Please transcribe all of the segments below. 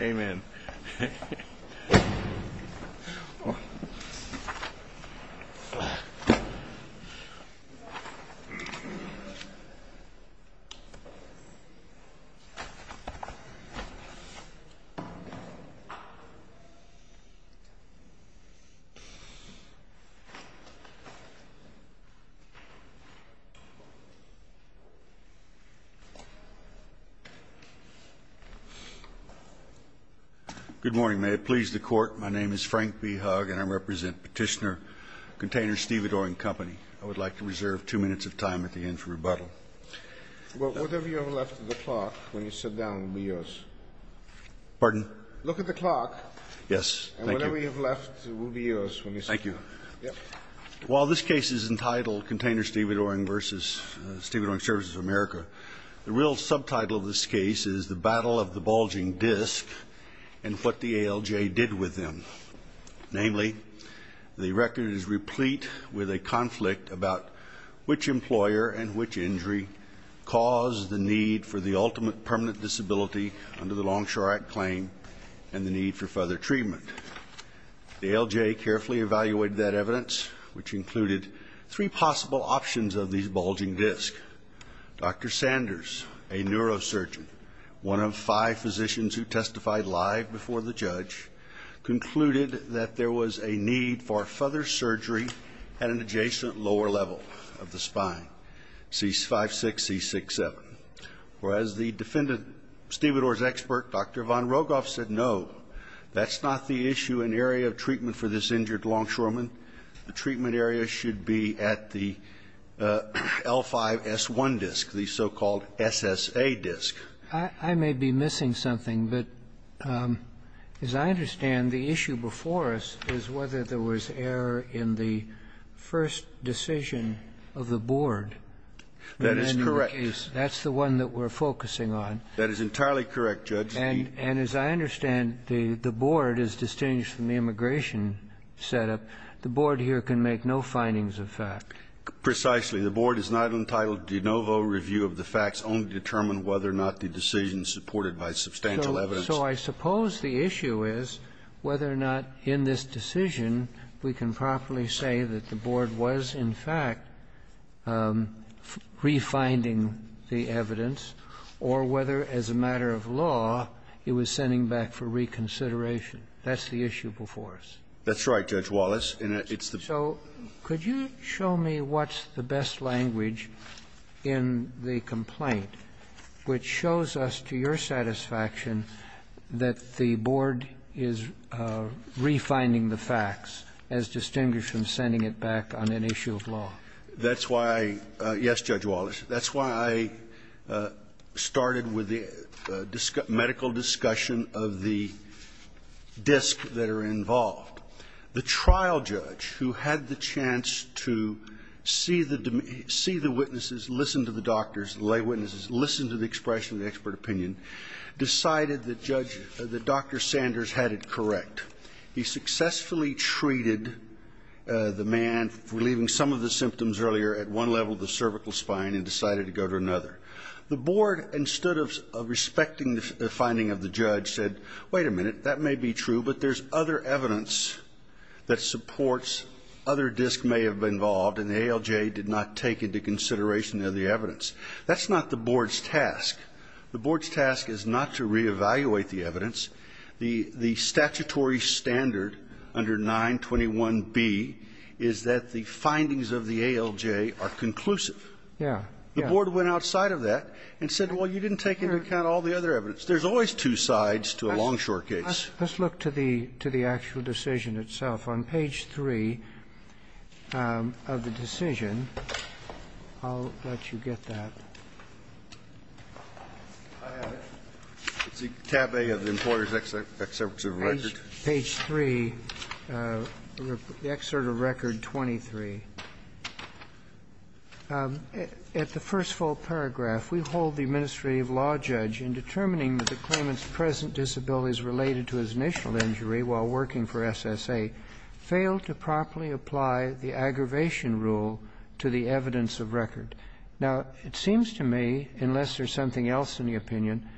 Amen Good morning, may it please the Court. My name is Frank B. Hugg, and I represent Petitioner Container Stevedoring Company. I would like to reserve two minutes of time at the end for rebuttal. Well, whatever you have left of the clock when you sit down will be yours. Pardon? Look at the clock. Yes, thank you. And whatever you have left will be yours when you sit down. Thank you. While this case is entitled Container Stevedoring v. Stevedoring Services of America, the real subtitle of this case is The Battle of the Bulging Disc and What the ALJ Did With Them. Namely, the record is replete with a conflict about which employer and which injury caused the need for the ultimate permanent disability under the Longshore Act claim and the need for further treatment. The ALJ carefully evaluated that evidence, which included three possible options of these bulging discs. Dr. Sanders, a neurosurgeon, one of five physicians who testified live before the judge, concluded that there was a need for further surgery at an adjacent lower level of the spine, C56-C67. Whereas the defendant, Stevedore's expert, Dr. Von Rogoff, said no, that's not the issue and area of treatment for this injured longshoreman. The treatment area should be at the L5-S1 disc, the so-called SSA disc. I may be missing something, but as I understand, the issue before us is whether there was error in the first decision of the board. That is correct. That's the one that we're focusing on. That is entirely correct, Judge. And as I understand, the board is distinguished from the immigration setup. The board here can make no findings of fact. Precisely. The board is not entitled to de novo review of the facts, only determine whether or not the decision is supported by substantial evidence. So I suppose the issue is whether or not in this decision we can properly say that the board was, in fact, refinding the evidence, or whether, as a matter of law, it was sending back for reconsideration. That's the issue before us. That's right, Judge Wallace. And it's the ---- So could you show me what's the best language in the complaint which shows us, to your satisfaction, that the board is refinding the facts, as distinguished from sending it back on an issue of law? That's why I ---- yes, Judge Wallace. That's why I started with the medical discussion of the disks that are involved. The trial judge, who had the chance to see the witnesses, listen to the doctors, the lay witnesses, listen to the expression of the expert opinion, decided that Judge ---- that Dr. Sanders had it correct. He successfully treated the man, relieving some of the symptoms earlier, at one level of the cervical spine, and decided to go to another. The board, instead of respecting the finding of the judge, said, wait a minute, that may be true, but there's other evidence that supports, other disks may have been involved, and the ALJ did not take into consideration the evidence. That's not the board's task. The board's task is not to reevaluate the evidence. The statutory standard under 921B is that the findings of the ALJ are conclusive. Yeah. The board went outside of that and said, well, you didn't take into account all the other evidence. There's always two sides to a long, short case. Let's look to the actual decision itself. On page 3 of the decision, I'll let you get that. It's tab A of the Employer's Excerpt of Record. Page 3, the excerpt of Record 23. At the first full paragraph, we hold the administrative law judge in determining that the claimant's present disabilities related to his initial injury while working for SSA failed to properly apply the aggravation rule to the evidence of record. Now, it seems to me, unless there's something else in the opinion,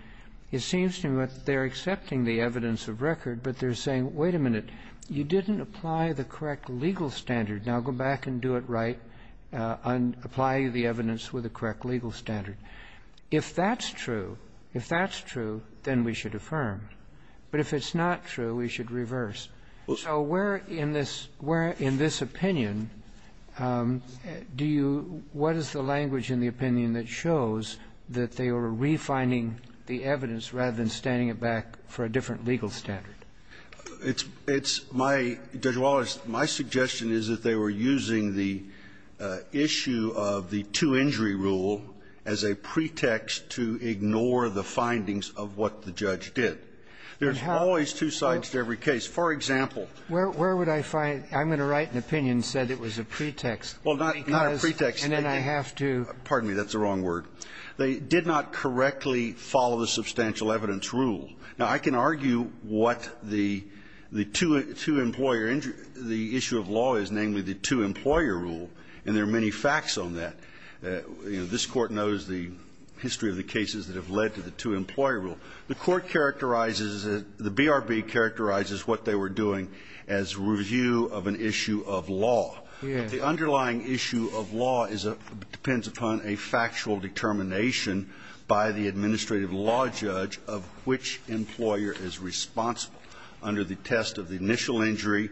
it seems to me that they're accepting the evidence of record, but they're saying, wait a minute, you didn't apply the correct legal standard. Now, go back and do it right and apply the evidence with the correct legal standard. If that's true, if that's true, then we should affirm. But if it's not true, we should reverse. So where in this opinion do you – what is the language in the opinion that shows that they were refinding the evidence rather than standing it back for a different legal standard? It's my – Judge Wallace, my suggestion is that they were using the issue of the two-injury rule as a pretext to ignore the findings of what the judge did. There's always two sides to every case. For example – Where would I find – I'm going to write an opinion that said it was a pretext. Well, not a pretext. And then I have to – Pardon me, that's the wrong word. They did not correctly follow the substantial evidence rule. Now, I can argue what the two-employer – the issue of law is, namely, the two-employer rule, and there are many facts on that. This Court knows the history of the cases that have led to the two-employer rule. The Court characterizes it – the BRB characterizes what they were doing as review of an issue of law. Yes. The underlying issue of law is – depends upon a factual determination by the administrative law judge of which employer is responsible under the test of the initial injury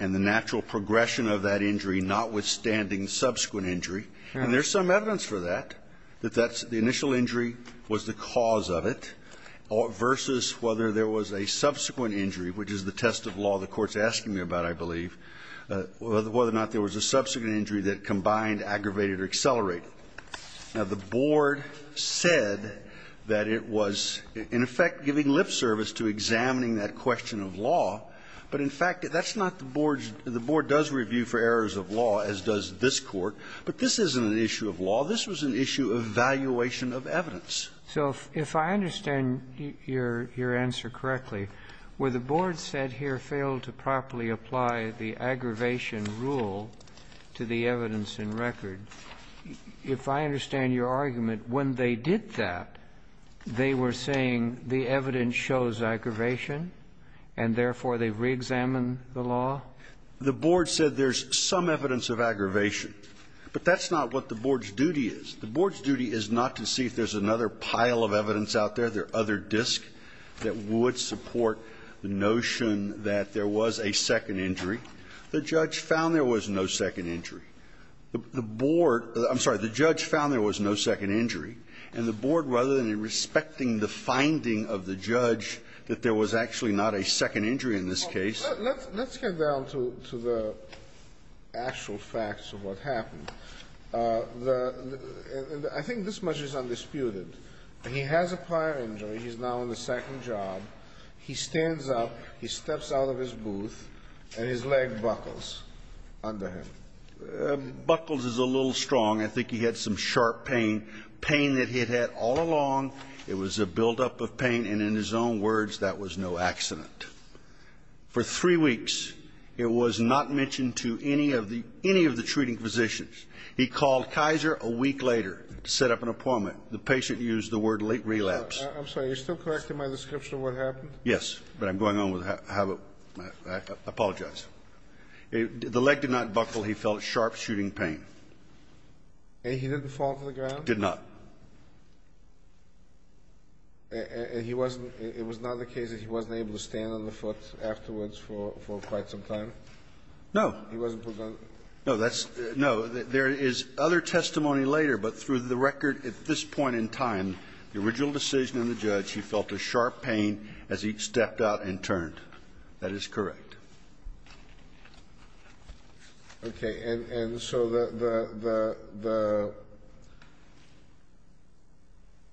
and the natural progression of that injury, notwithstanding subsequent injury. And there's some evidence for that, that that's – the initial injury was the cause of it. Versus whether there was a subsequent injury, which is the test of law the Court's asking me about, I believe, whether or not there was a subsequent injury that combined, aggravated, or accelerated. Now, the Board said that it was, in effect, giving lip service to examining that question of law, but, in fact, that's not the Board's – the Board does review for errors of law, as does this Court, but this isn't an issue of law. This was an issue of evaluation of evidence. So if I understand your answer correctly, where the Board said here, fail to properly apply the aggravation rule to the evidence in record, if I understand your argument, when they did that, they were saying the evidence shows aggravation, and therefore they've reexamined the law? The Board said there's some evidence of aggravation, but that's not what the Board's duty is. The Board's duty is not to see if there's another pile of evidence out there, there are other disks that would support the notion that there was a second injury. The judge found there was no second injury. The Board – I'm sorry. The judge found there was no second injury, and the Board, rather than respecting the finding of the judge that there was actually not a second injury in this case Let's get down to the actual facts of what happened. I think this much is undisputed. He has a prior injury. He's now on the second job. He stands up. He steps out of his booth, and his leg buckles under him. Buckles is a little strong. I think he had some sharp pain, pain that he had had all along. It was a buildup of pain, and in his own words, that was no accident. For three weeks, it was not mentioned to any of the – any of the treating physicians. He called Kaiser a week later to set up an appointment. The patient used the word late relapse. I'm sorry. Are you still correcting my description of what happened? Yes. But I'm going on with how it – I apologize. The leg did not buckle. He felt sharp, shooting pain. And he didn't fall to the ground? Did not. And he wasn't – it was not the case that he wasn't able to stand on the foot afterwards for quite some time? No. He wasn't put on – No. That's – no. There is other testimony later, but through the record at this point in time, the original decision and the judge, he felt a sharp pain as he stepped out and turned. That is correct. Okay. And so the –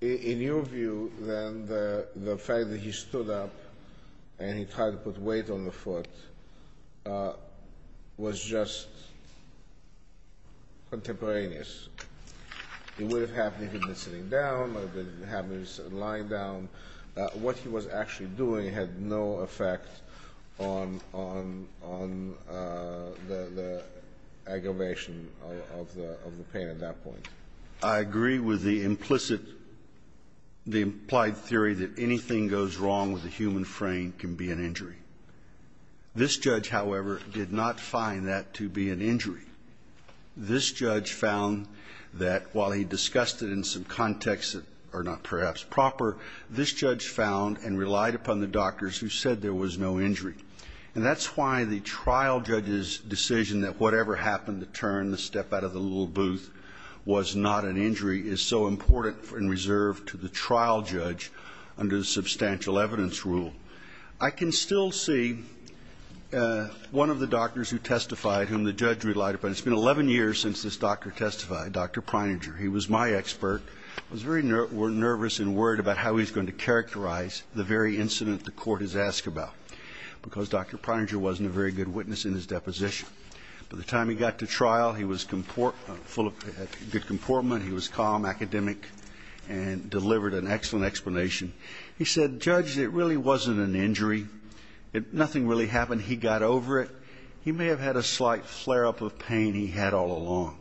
in your view, then, the fact that he stood up and he tried to put weight on the foot was just contemporaneous. It would have happened if he'd been sitting down. It would have happened if he'd been lying down. What he was actually doing had no effect on the aggravation of the pain at that point. I agree with the implicit – the implied theory that anything goes wrong with a human frame can be an injury. This judge, however, did not find that to be an injury. This judge found that while he discussed it in some contexts that are not perhaps proper, this judge found and relied upon the doctors who said there was no injury. And that's why the trial judge's decision that whatever happened, the turn, the step out of the little booth was not an injury, is so important and reserved to the trial judge under the substantial evidence rule. I can still see one of the doctors who testified whom the judge relied upon. It's been 11 years since this doctor testified, Dr. Preininger. He was my expert. I was very nervous and worried about how he was going to characterize the very incident the Court has asked about because Dr. Preininger wasn't a very good witness in his deposition. By the time he got to trial, he was full of good comportment. He was calm, academic, and delivered an excellent explanation. He said, Judge, it really wasn't an injury. Nothing really happened. He got over it. He may have had a slight flare-up of pain he had all along.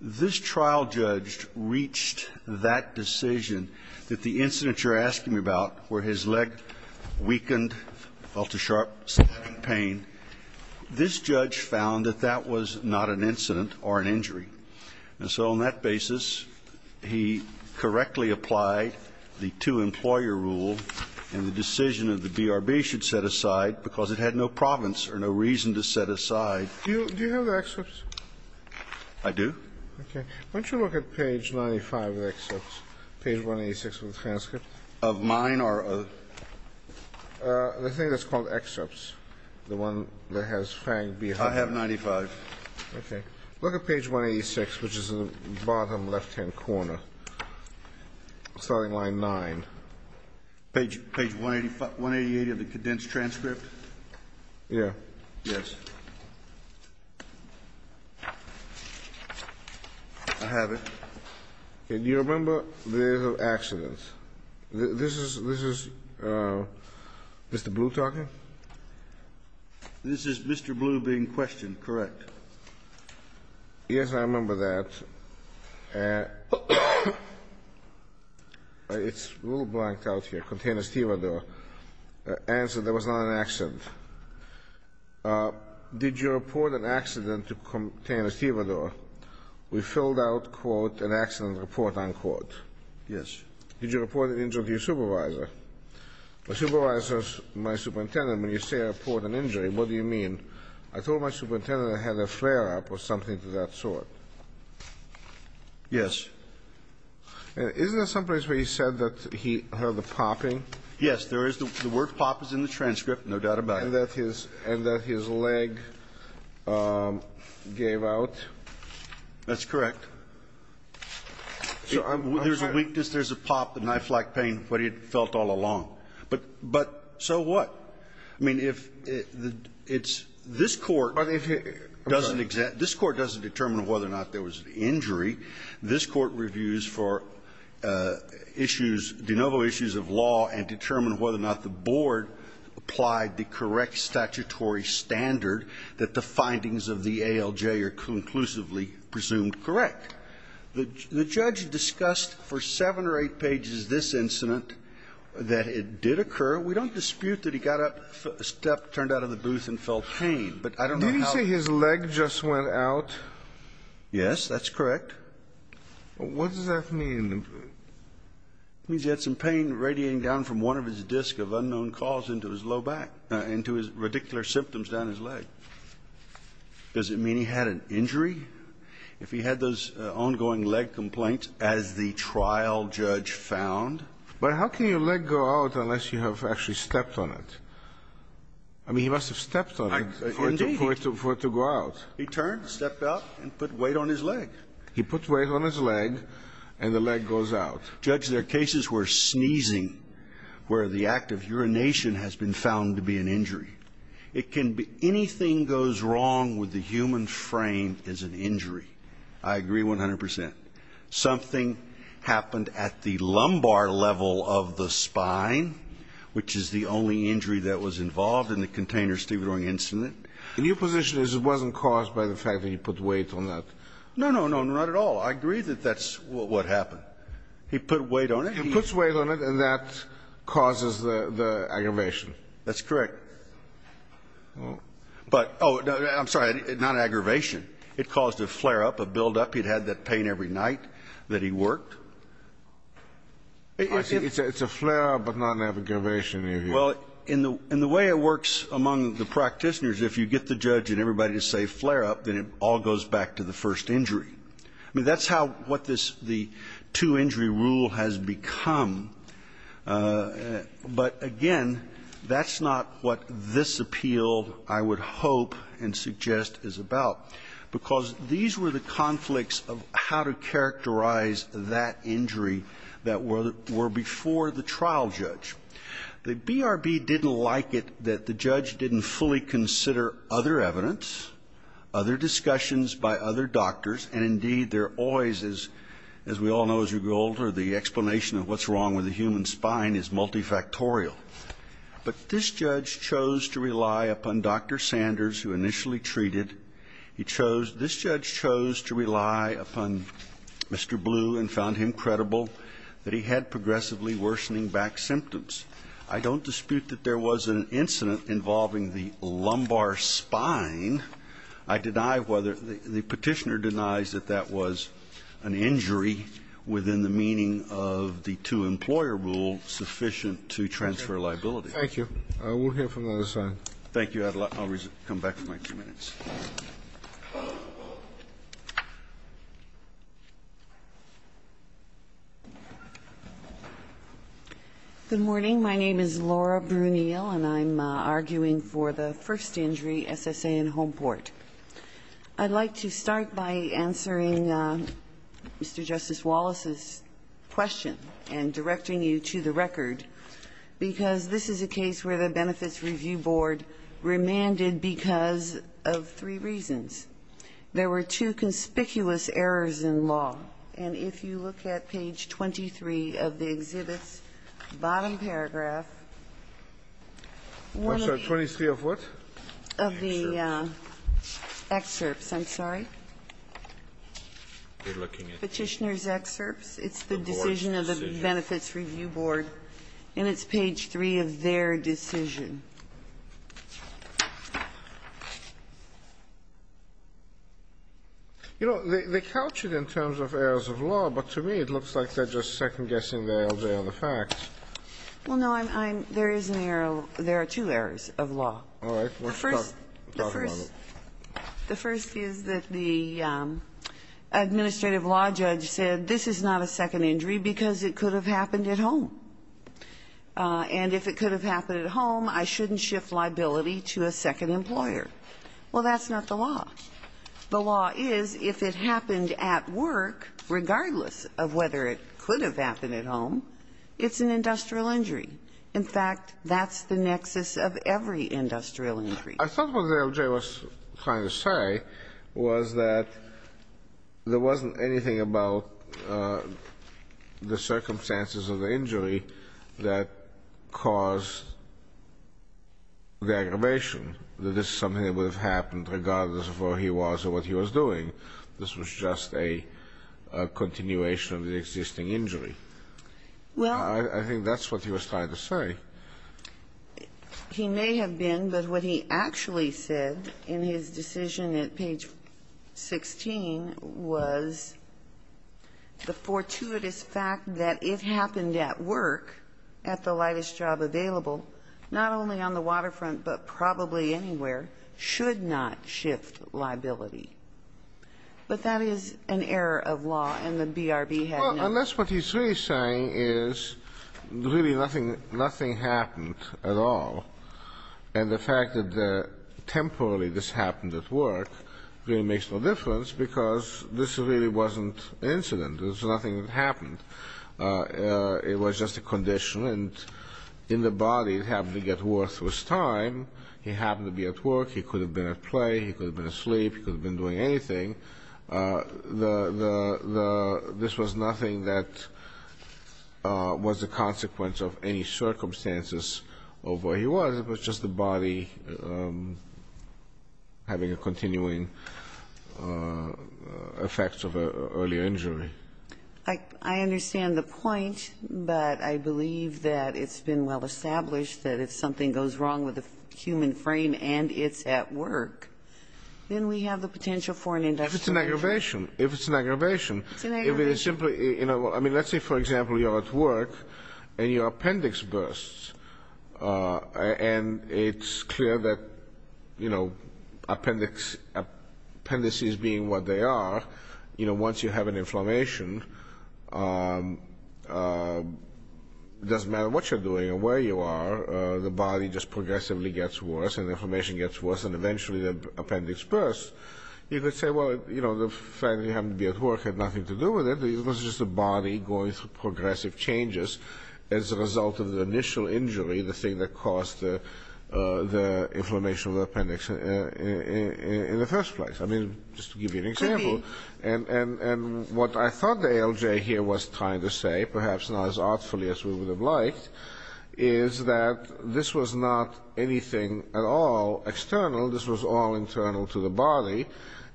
This trial judge reached that decision that the incident you're asking about where his leg weakened, felt a sharp pain, this judge found that that was not an incident or an injury. And so on that basis, he correctly applied the two-employer rule and the decision of the BRB should set aside because it had no province or no reason to set aside. Do you have the excerpts? I do. Okay. Why don't you look at page 95 of the excerpts, page 186 of the transcript? Of mine or? The thing that's called excerpts, the one that has Fang behind it. I have 95. Okay. Look at page 186, which is in the bottom left-hand corner, starting line 9. Page 188 of the condensed transcript? Yeah. Yes. I have it. Okay. Do you remember the days of accidents? This is Mr. Blue talking? This is Mr. Blue being questioned, correct. Yes, I remember that. It's a little blanked out here. Container stevedore. Answer, there was not an accident. Did you report an accident to container stevedore? We filled out, quote, an accident report, unquote. Yes. Did you report an injury to your supervisor? My supervisor is my superintendent. When you say report an injury, what do you mean? I told my superintendent I had a flare-up or something to that sort. Yes. Isn't there someplace where he said that he heard the popping? Yes, there is. The word pop is in the transcript, no doubt about it. And that his leg gave out? That's correct. So there's a weakness, there's a pop, a knife-like pain, what he'd felt all along. But so what? I mean, if it's this Court doesn't examine, this Court doesn't determine whether or not there was an injury. This Court reviews for issues, de novo issues of law and determine whether or not the board applied the correct statutory standard that the findings of the ALJ are conclusively presumed correct. The judge discussed for seven or eight pages this incident that it did occur. We don't dispute that he got up, stepped, turned out of the booth, and felt pain. But I don't know how... Did he say his leg just went out? Yes, that's correct. What does that mean? It means he had some pain radiating down from one of his discs of unknown cause into his low back, into his radicular symptoms down his leg. Does it mean he had an injury? If he had those ongoing leg complaints, as the trial judge found... But how can your leg go out unless you have actually stepped on it? I mean, he must have stepped on it for it to go out. He turned, stepped out, and put weight on his leg. He put weight on his leg, and the leg goes out. Judge, there are cases where sneezing, where the act of urination has been found to be an injury. It can be anything goes wrong with the human frame is an injury. I agree 100 percent. Something happened at the lumbar level of the spine, which is the only injury that was involved in the container stevedoring incident. And your position is it wasn't caused by the fact that he put weight on that? No, no, no, not at all. I agree that that's what happened. He put weight on it. He puts weight on it, and that causes the aggravation. That's correct. But, oh, I'm sorry, not aggravation. It caused a flare-up, a buildup. He'd had that pain every night that he worked. It's a flare-up, but not an aggravation. Well, in the way it works among the practitioners, if you get the judge and everybody to say flare-up, then it all goes back to the first injury. I mean, that's how what this two-injury rule has become. But, again, that's not what this appeal, I would hope and suggest, is about. Because these were the conflicts of how to characterize that injury that were before the trial judge. The BRB didn't like it that the judge didn't fully consider other evidence, other discussions by other doctors. And, indeed, there always is, as we all know as we grow older, the explanation of what's wrong with the human spine is multifactorial. But this judge chose to rely upon Dr. Sanders, who initially treated. He chose, this judge chose to rely upon Mr. Blue and found him credible that he had progressively worsening back symptoms. I don't dispute that there was an incident involving the lumbar spine. I deny whether, the Petitioner denies that that was an injury within the meaning of the two-employer rule sufficient to transfer liability. Thank you. I will hear from the other side. Thank you. I'll come back for my two minutes. Good morning. My name is Laura Bruniel, and I'm arguing for the first injury, SSA in Homeport. I'd like to start by answering Mr. Justice Wallace's question and directing you to the record, because this is a case where the Benefits Review Board remanded because of three reasons. There were two conspicuous errors in law. And if you look at page 23 of the exhibit's bottom paragraph, one of the 23 of what? Of the excerpts, I'm sorry. Petitioner's excerpts. It's the decision of the Benefits Review Board. And it's page 3 of their decision. You know, they couch it in terms of errors of law, but to me it looks like they're just second-guessing the ALJ on the facts. Well, no, I'm – there is an error. There are two errors of law. All right. Let's talk about it. The first is that the administrative law judge said this is not a second injury because it could have happened at home. And if it could have happened at home, I shouldn't shift liability to a second employer. Well, that's not the law. The law is if it happened at work, regardless of whether it could have happened at home, it's an industrial injury. In fact, that's the nexus of every industrial injury. I thought what the ALJ was trying to say was that there wasn't anything about the circumstances of the injury that caused the aggravation, that this is something that would have happened regardless of where he was or what he was doing. This was just a continuation of the existing injury. Well – I think that's what he was trying to say. He may have been, but what he actually said in his decision at page 16 was the fortuitous fact that it happened at work, at the lightest job available, not only on the waterfront but probably anywhere, should not shift liability. But that is an error of law, and the BRB had no – Well, unless what he's really saying is really nothing happened at all, and the fact that temporarily this happened at work really makes no difference because this really wasn't an incident. There's nothing that happened. It was just a condition, and in the body it happened to get worse with time. He happened to be at work. He could have been at play. He could have been asleep. He could have been doing anything. This was nothing that was a consequence of any circumstances of where he was. It was just the body having a continuing effect of an earlier injury. I understand the point, but I believe that it's been well-established that if something goes wrong with a human frame and it's at work, then we have the potential for an industrial – If it's an aggravation. If it's an aggravation. If it's simply – I mean, let's say, for example, you're at work and your appendix bursts, and it's clear that appendices being what they are, once you have an inflammation, it doesn't matter what you're doing or where you are, the body just progressively gets worse, and the inflammation gets worse, and you could say, well, you know, the fact that he happened to be at work had nothing to do with it. It was just the body going through progressive changes as a result of the initial injury, the thing that caused the inflammation of the appendix in the first place. I mean, just to give you an example, and what I thought the ALJ here was trying to say, perhaps not as artfully as we would have liked, is that this was not anything at all external. This was all internal to the body,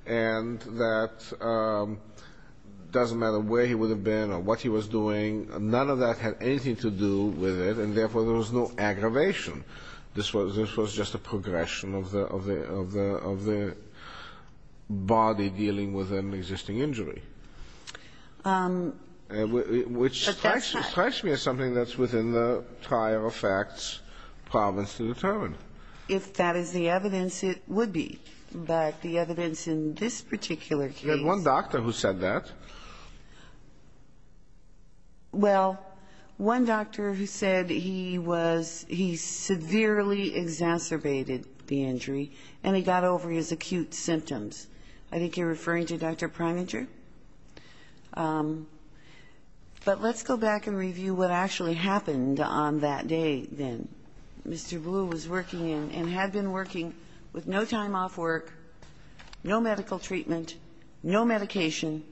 and that it doesn't matter where he would have been or what he was doing, none of that had anything to do with it, and therefore, there was no aggravation. This was just a progression of the body dealing with an existing injury, which strikes me as something that's within the prior effects province to determine. If that is the evidence, it would be. But the evidence in this particular case. You had one doctor who said that. Well, one doctor who said he was he severely exacerbated the injury, and he got over his acute symptoms. I think you're referring to Dr. Prininger. But let's go back and review what actually happened on that day, then. Mr. Blue was working in and had been working with no time off work, no medical treatment, no medication,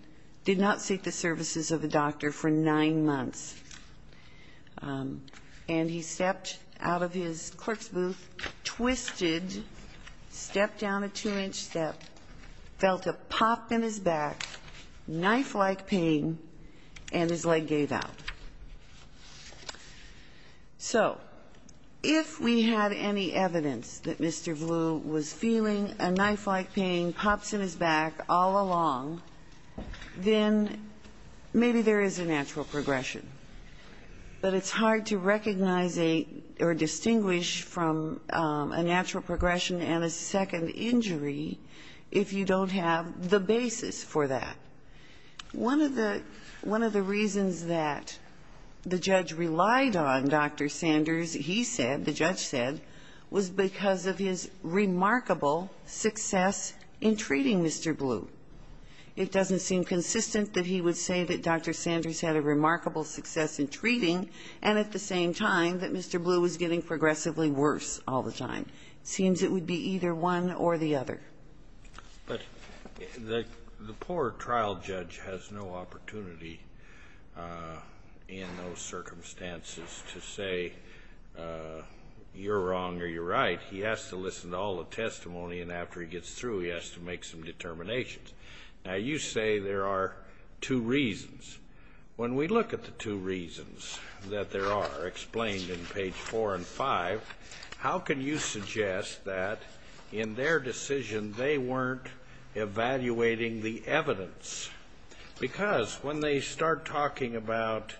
did not seek the services of the doctor for nine months, and he stepped out of his clerk's booth, twisted, stepped down a two-inch step, felt a pop in his back, knife-like pain, and his leg gave out. So if we had any evidence that Mr. Blue was feeling a knife-like pain, pops in his back all along, then maybe there is a natural progression. But it's hard to recognize a or distinguish from a natural progression and a second injury if you don't have the basis for that. One of the reasons that the judge relied on Dr. Sanders, he said, the judge said, was because of his remarkable success in treating Mr. Blue. It doesn't seem consistent that he would say that Dr. Sanders had a remarkable success in treating and at the same time that Mr. Blue was getting progressively worse all the time. It seems it would be either one or the other. But the poor trial judge has no opportunity in those circumstances to say you're wrong or you're right. He has to listen to all the testimony, and after he gets through, he has to make some determinations. Now, you say there are two reasons. When we look at the two reasons that there are explained in page four and five, how can you suggest that in their decision they weren't evaluating the evidence? Because when they start talking about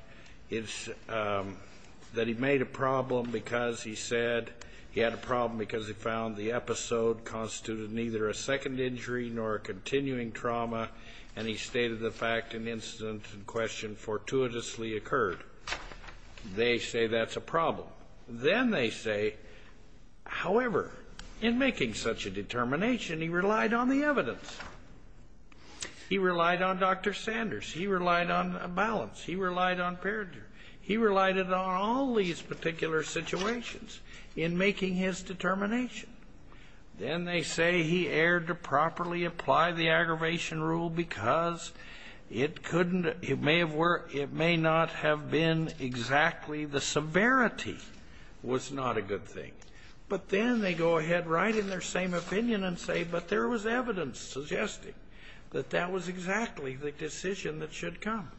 that he made a problem because he said he had a problem because he found the episode constituted neither a second injury nor a continuing trauma, and he stated the fact an incident in question fortuitously occurred, they say that's a problem. Then they say, however, in making such a determination, he relied on the evidence. He relied on Dr. Sanders. He relied on balance. He relied on perjury. He relied on all these particular situations in making his determination. Then they say he erred to properly apply the aggravation rule because it may not have been exactly the severity was not a good thing. But then they go ahead right in their same opinion and say, but there was evidence suggesting that that was exactly the decision that should come.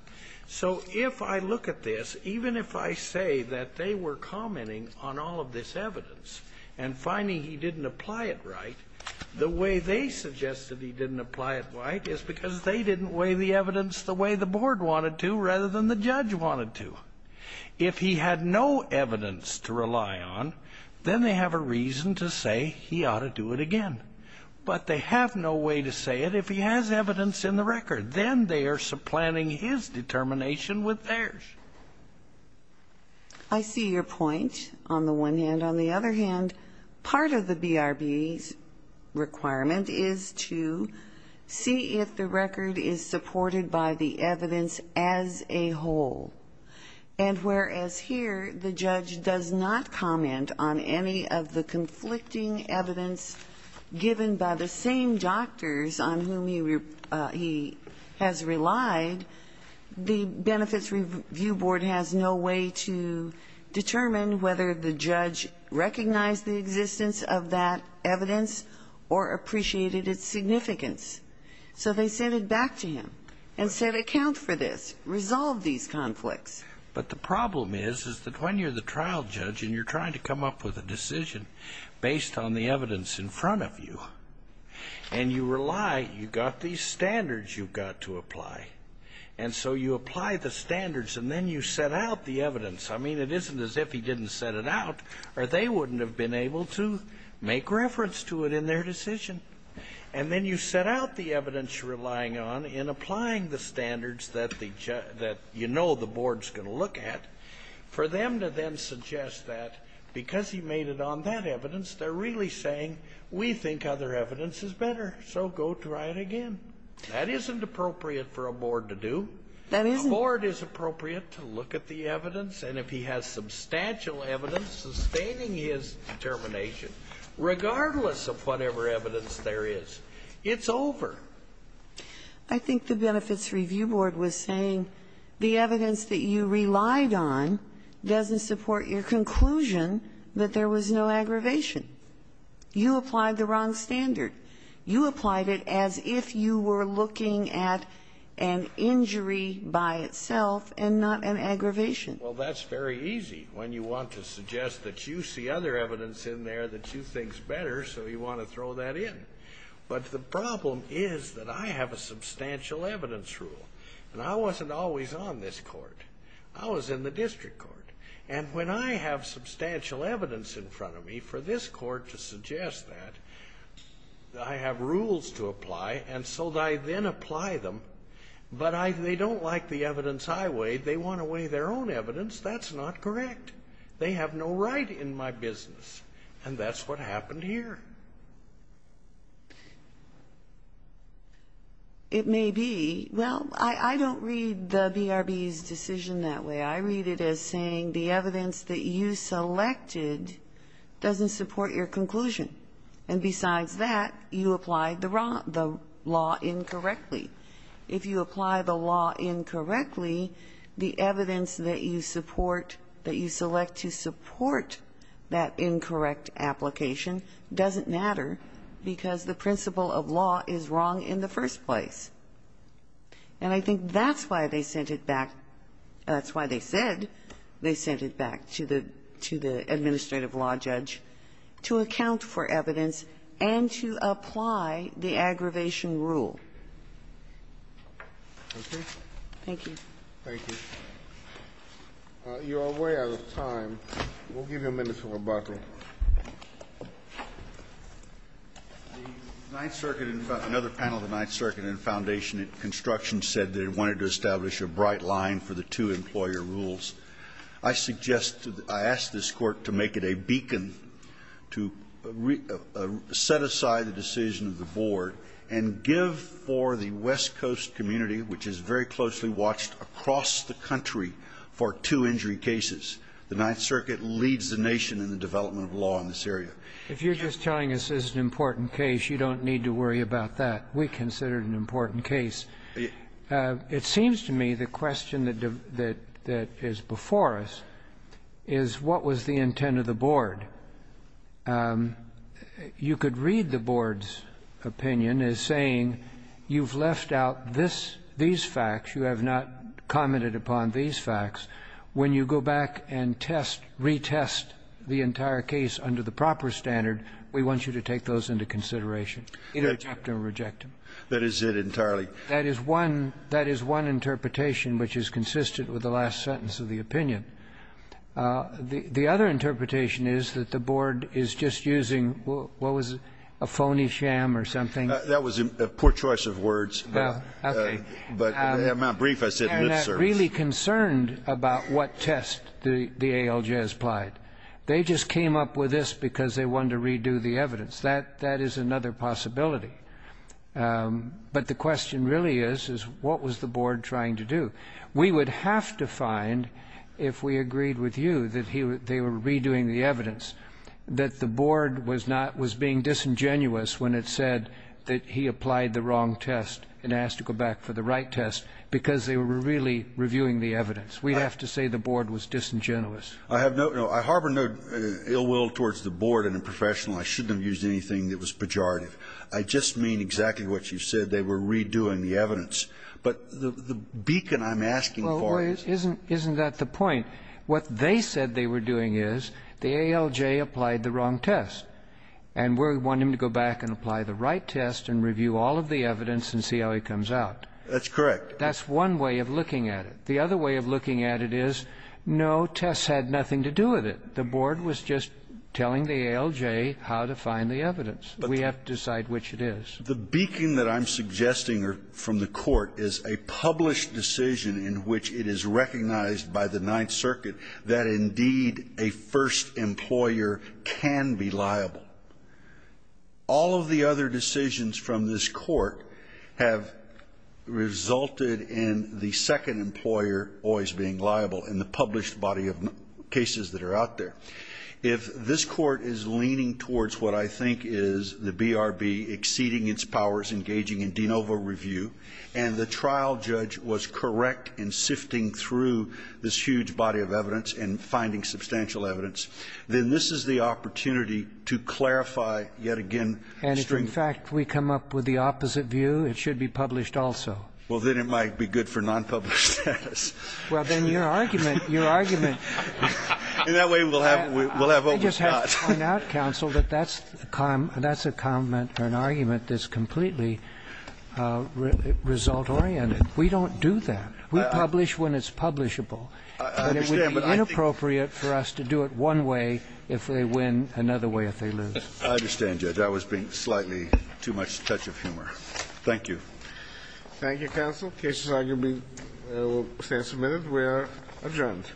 So if I look at this, even if I say that they were commenting on all of this evidence and finding he didn't apply it right, the way they suggested he didn't apply it right is because they didn't weigh the evidence the way the board wanted to rather than the If he had no evidence to rely on, then they have a reason to say he ought to do it again. But they have no way to say it. If he has evidence in the record, then they are supplanting his determination with theirs. I see your point on the one hand. On the other hand, part of the BRB's requirement is to see if the record is supported by the And whereas here the judge does not comment on any of the conflicting evidence given by the same doctors on whom he has relied, the Benefits Review Board has no way to determine whether the judge recognized the existence of that evidence or appreciated its significance. So they sent it back to him and said, account for this. Resolve these conflicts. But the problem is, is that when you're the trial judge and you're trying to come up with a decision based on the evidence in front of you and you rely, you've got these standards you've got to apply. And so you apply the standards and then you set out the evidence. I mean, it isn't as if he didn't set it out or they wouldn't have been able to make reference to it in their decision. And then you set out the evidence you're relying on in applying the standards that you know the board's going to look at, for them to then suggest that because he made it on that evidence, they're really saying, we think other evidence is better. So go try it again. That isn't appropriate for a board to do. The board is appropriate to look at the evidence. And if he has substantial evidence sustaining his determination, regardless of whatever evidence there is, it's over. I think the Benefits Review Board was saying the evidence that you relied on doesn't support your conclusion that there was no aggravation. You applied the wrong standard. You applied it as if you were looking at an injury by itself and not an aggravation. Well, that's very easy when you want to suggest that you see other evidence in there that you think is better, so you want to throw that in. But the problem is that I have a substantial evidence rule. And I wasn't always on this court. I was in the district court. And when I have substantial evidence in front of me for this court to suggest that, I have rules to apply. And so I then apply them. But they don't like the evidence I weighed. They want to weigh their own evidence. That's not correct. They have no right in my business. And that's what happened here. It may be. Well, I don't read the BRB's decision that way. I read it as saying the evidence that you selected doesn't support your conclusion. And besides that, you applied the law incorrectly. If you apply the law incorrectly, the evidence that you support, that you select to support that incorrect application doesn't matter because the principle of law is wrong in the first place. And I think that's why they sent it back. That's why they said they sent it back to the administrative law judge, to account for evidence and to apply the aggravation rule. Thank you. Thank you. You're way out of time. We'll give you a minute for rebuttal. The Ninth Circuit, another panel of the Ninth Circuit and Foundation Construction said they wanted to establish a bright line for the two employer rules. I suggest, I ask this court to make it a beacon to set aside the decision of the board and give for the West Coast community, which is very closely watched across the country, for two injury cases. The Ninth Circuit leads the nation in the development of law in this area. If you're just telling us this is an important case, you don't need to worry about that. We consider it an important case. It seems to me the question that is before us is what was the intent of the board? You could read the board's opinion as saying you've left out this, these facts. You have not commented upon these facts. When you go back and test, retest the entire case under the proper standard, we want you to take those into consideration, either accept them or reject them. That is it entirely. That is one interpretation which is consistent with the last sentence of the opinion. The other interpretation is that the board is just using, what was it, a phony sham or something? That was a poor choice of words. Well, okay. But I'm not brief. I said lip service. And that really concerned about what test the ALJ has applied. They just came up with this because they wanted to redo the evidence. That is another possibility. But the question really is, is what was the board trying to do? We would have to find, if we agreed with you that they were redoing the evidence, that the board was not, was being disingenuous when it said that he applied the wrong test and asked to go back for the right test because they were really reviewing the evidence. We have to say the board was disingenuous. I have no, I harbor no ill will towards the board and the professional. I shouldn't have used anything that was pejorative. I just mean exactly what you said. They were redoing the evidence. But the beacon I'm asking for is. Well, isn't that the point? What they said they were doing is the ALJ applied the wrong test. And we want him to go back and apply the right test and review all of the evidence and see how he comes out. That's correct. That's one way of looking at it. The other way of looking at it is, no, tests had nothing to do with it. The board was just telling the ALJ how to find the evidence. We have to decide which it is. The beacon that I'm suggesting from the court is a published decision in which it is recognized by the Ninth Circuit that indeed a first employer can be liable. All of the other decisions from this court have resulted in the second employer always being liable in the published body of cases that are out there. If this Court is leaning towards what I think is the BRB exceeding its powers, engaging in de novo review, and the trial judge was correct in sifting through this huge body of evidence and finding substantial evidence, then this is the opportunity to clarify yet again stringent. And if, in fact, we come up with the opposite view, it should be published also. Well, then it might be good for nonpublished status. Well, then your argument, your argument. In that way, we'll have what we've got. I just have to point out, counsel, that that's a comment or an argument that's completely result-oriented. We don't do that. We publish when it's publishable. I understand, but I think the point is that it would be inappropriate for us to do it one way if they win, another way if they lose. I understand, Judge. I was being slightly too much touch of humor. Thank you. Thank you, counsel. The case is now going to stand for a minute. We are adjourned. All rise.